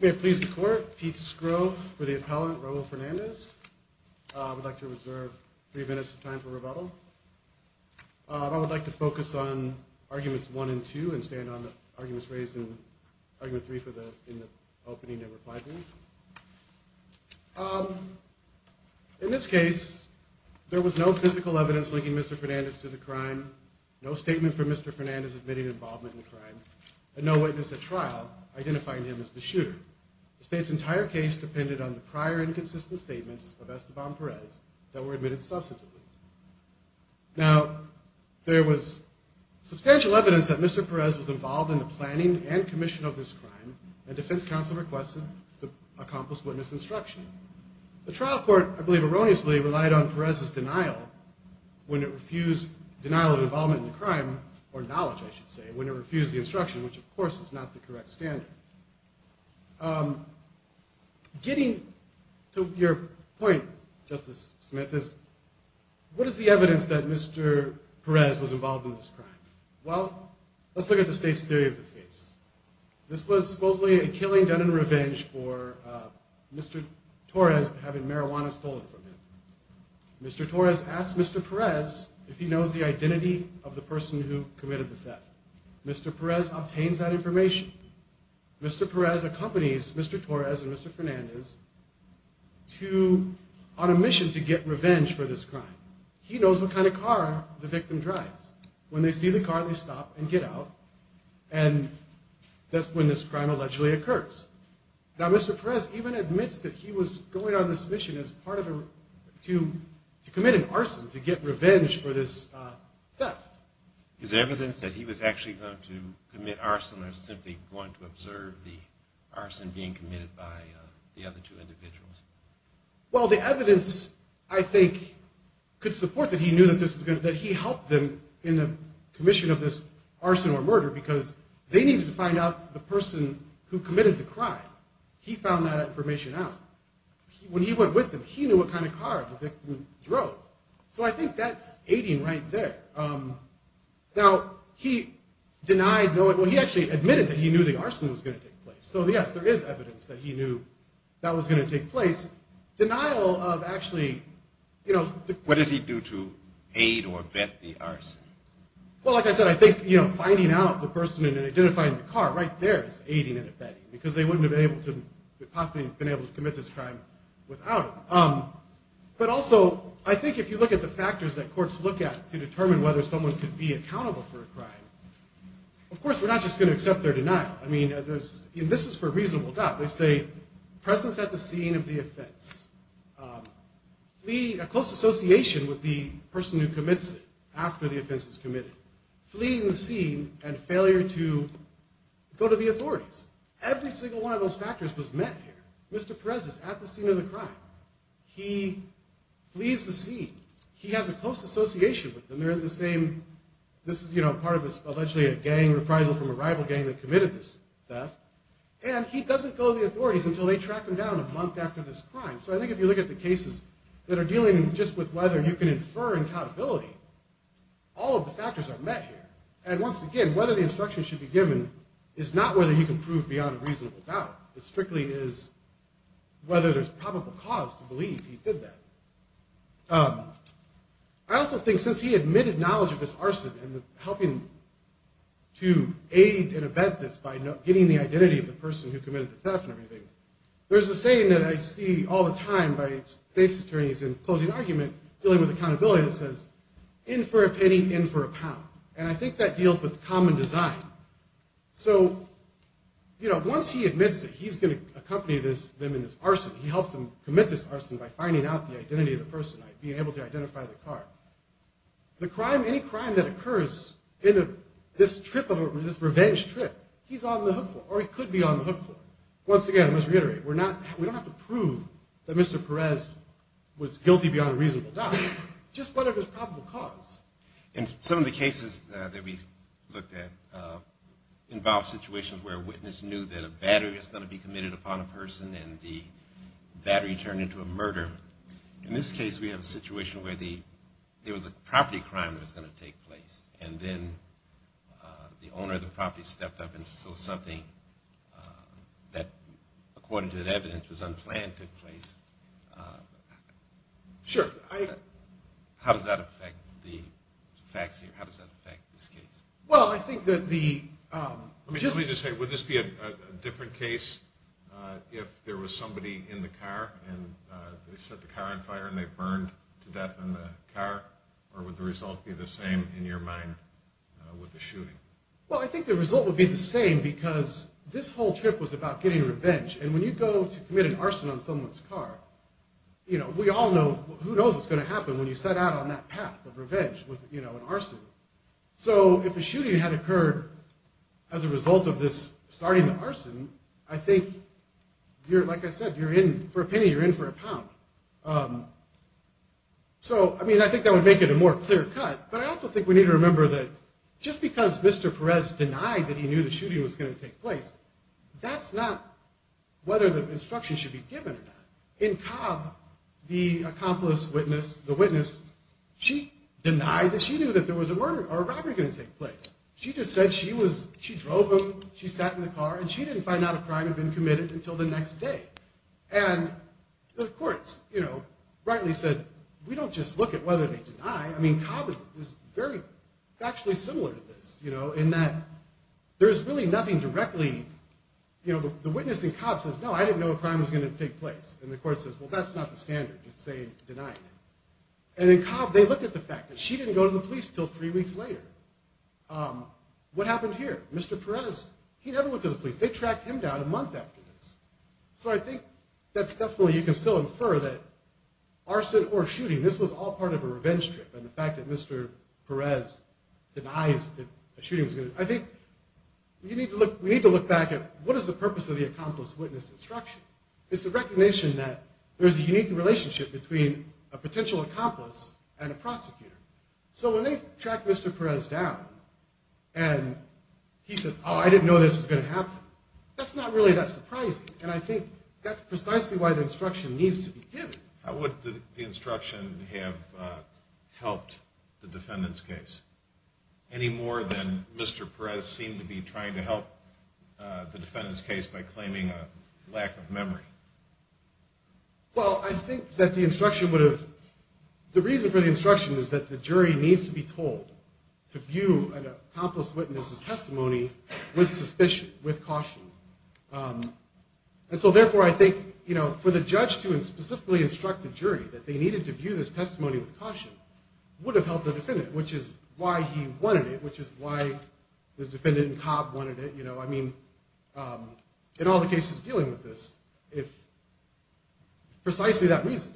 May it please the court, Pete Skro for the appellant, Raul Fernandez. I would like to reserve three minutes of time for rebuttal. I would like to focus on arguments one and two and stand on the arguments raised in argument three in the opening and reply brief. In this case, there was no physical evidence linking Mr. Fernandez to the crime, no statement from Mr. Fernandez admitting involvement in the crime, and no witness at trial identifying him as the shooter. The state's entire case depended on the prior inconsistent statements of Esteban Perez that were admitted subsequently. Now, there was substantial evidence that Mr. Perez was involved in the planning and commission of this crime, and defense counsel requested to accomplish witness instruction. The trial court, I believe erroneously, relied on Perez's denial when it refused the instruction, which of course is not the correct standard. Getting to your point, Justice Smith, is what is the evidence that Mr. Perez was involved in this crime? Well, let's look at the state's theory of this case. This was supposedly a killing done in revenge for Mr. Torres having marijuana stolen from him. Mr. Torres asked Mr. Perez if he knows the identity of the person who committed the theft. Mr. Perez obtains that information. Mr. Perez accompanies Mr. Torres and Mr. Fernandez on a mission to get revenge for this crime. He knows what kind of car the victim drives. When they see the car, they stop and get out, and that's when this crime allegedly occurs. Now, Mr. Perez even admits that he was going on this mission to commit an arson to get revenge for this theft. Is there evidence that he was actually going to commit arson or simply going to observe the arson being committed by the other two individuals? Well, the evidence, I think, could support that he knew that he helped them in the commission of this arson or murder because they needed to find out the person who committed the crime. He found that information out. When he went with them, he knew what kind of car the victim drove. So I think that's aiding right there. Now, he denied knowing – well, he actually admitted that he knew the arson was going to take place. So yes, there is evidence that he knew that was going to take place. Denial of actually – What did he do to aid or vet the arson? Well, like I said, I think finding out the person and identifying the car right there is aiding and vetting because they wouldn't have possibly been able to commit this crime without him. But also, I think if you look at the factors that courts look at to determine whether someone could be accountable for a crime, of course, we're not just going to accept their denial. I mean, this is for a reasonable doubt. They say presence at the scene of the offense, a close association with the person who commits it after the offense is committed, fleeing the scene, and failure to go to the authorities. Every single one of those factors was met here. Mr. Perez is at the scene of the crime. He flees the scene. He has a close association with them. They're in the same – this is, you know, part of this allegedly a gang reprisal from a rival gang that committed this theft. And he doesn't go to the authorities until they track him down a month after this crime. So I think if you look at the cases that are dealing just with whether you can infer accountability, all of the factors are met here. And once again, whether the instructions should be given is not whether you can prove beyond a reasonable doubt. It strictly is whether there's a probable cause to believe he did that. I also think since he admitted knowledge of this arson and helping to aid and abet this by getting the identity of the person who committed the theft and everything, there's a saying that I see all the time by state's attorneys in closing argument dealing with accountability that says, in for a penny, in for a pound. And I think that deals with common design. So, you know, once he admits that he's going to accompany them in this arson, he helps them commit this arson by finding out the identity of the person, being able to identify the car. The crime, any crime that occurs in this trip of a – this revenge trip, he's on the hook for. Or he could be on the hook for. Once again, I must reiterate, we're not – we don't have to prove that Mr. Perez was guilty beyond a reasonable doubt. Just whatever's probable cause. And some of the cases that we've looked at involve situations where a witness knew that a battery was going to be committed upon a person and the battery turned into a murder. In this case, we have a situation where the – there was a property crime that was going to take place. And then the vaccine. How does that affect this case? Well, I think that the – Let me just say, would this be a different case if there was somebody in the car and they set the car on fire and they burned to death in the car? Or would the result be the same in your mind with the shooting? Well, I think the result would be the same because this whole trip was about getting revenge. And when you go to commit an arson on someone's car, you set out on that path of revenge with an arson. So if a shooting had occurred as a result of this starting the arson, I think you're – like I said, you're in – for a penny, you're in for a pound. So, I mean, I think that would make it a more clear cut. But I also think we need to remember that just because Mr. Perez denied that he knew the shooting was going to take place, that's not whether the instruction should be given or not. In Cobb, the accomplice witness, the witness, she denied that she knew that there was a murder or a robbery going to take place. She just said she was – she drove him, she sat in the car, and she didn't find out a crime had been committed until the next day. And the courts rightly said, we don't just look at whether they deny. I mean, Cobb is very factually similar to this in that there's really nothing directly – the witness in Cobb says, no, I didn't know a crime had been committed. The court says, well, that's not the standard. Just say, deny. And in Cobb, they looked at the fact that she didn't go to the police until three weeks later. What happened here? Mr. Perez, he never went to the police. They tracked him down a month after this. So I think that's definitely – you can still infer that arson or shooting, this was all part of a revenge trip. And the fact that Mr. Perez denies that a shooting was going to – I think we need to look back at what is the purpose of the accomplice witness instruction? It's the recognition that there's a unique relationship between a potential accomplice and a prosecutor. So when they track Mr. Perez down and he says, oh, I didn't know this was going to happen, that's not really that surprising. And I think that's precisely why the instruction needs to be given. How would the instruction have helped the defendant's case any more than Mr. Perez seemed to be trying to help the defendant's case by claiming a lack of memory? Well, I think that the instruction would have – the reason for the instruction is that the jury needs to be told to view an And so therefore, I think for the judge to specifically instruct the jury that they needed to view this testimony with caution would have helped the defendant, which is why he wanted it, which is why the defendant and cop wanted it. I mean, in all the cases dealing with this, it's precisely that reason.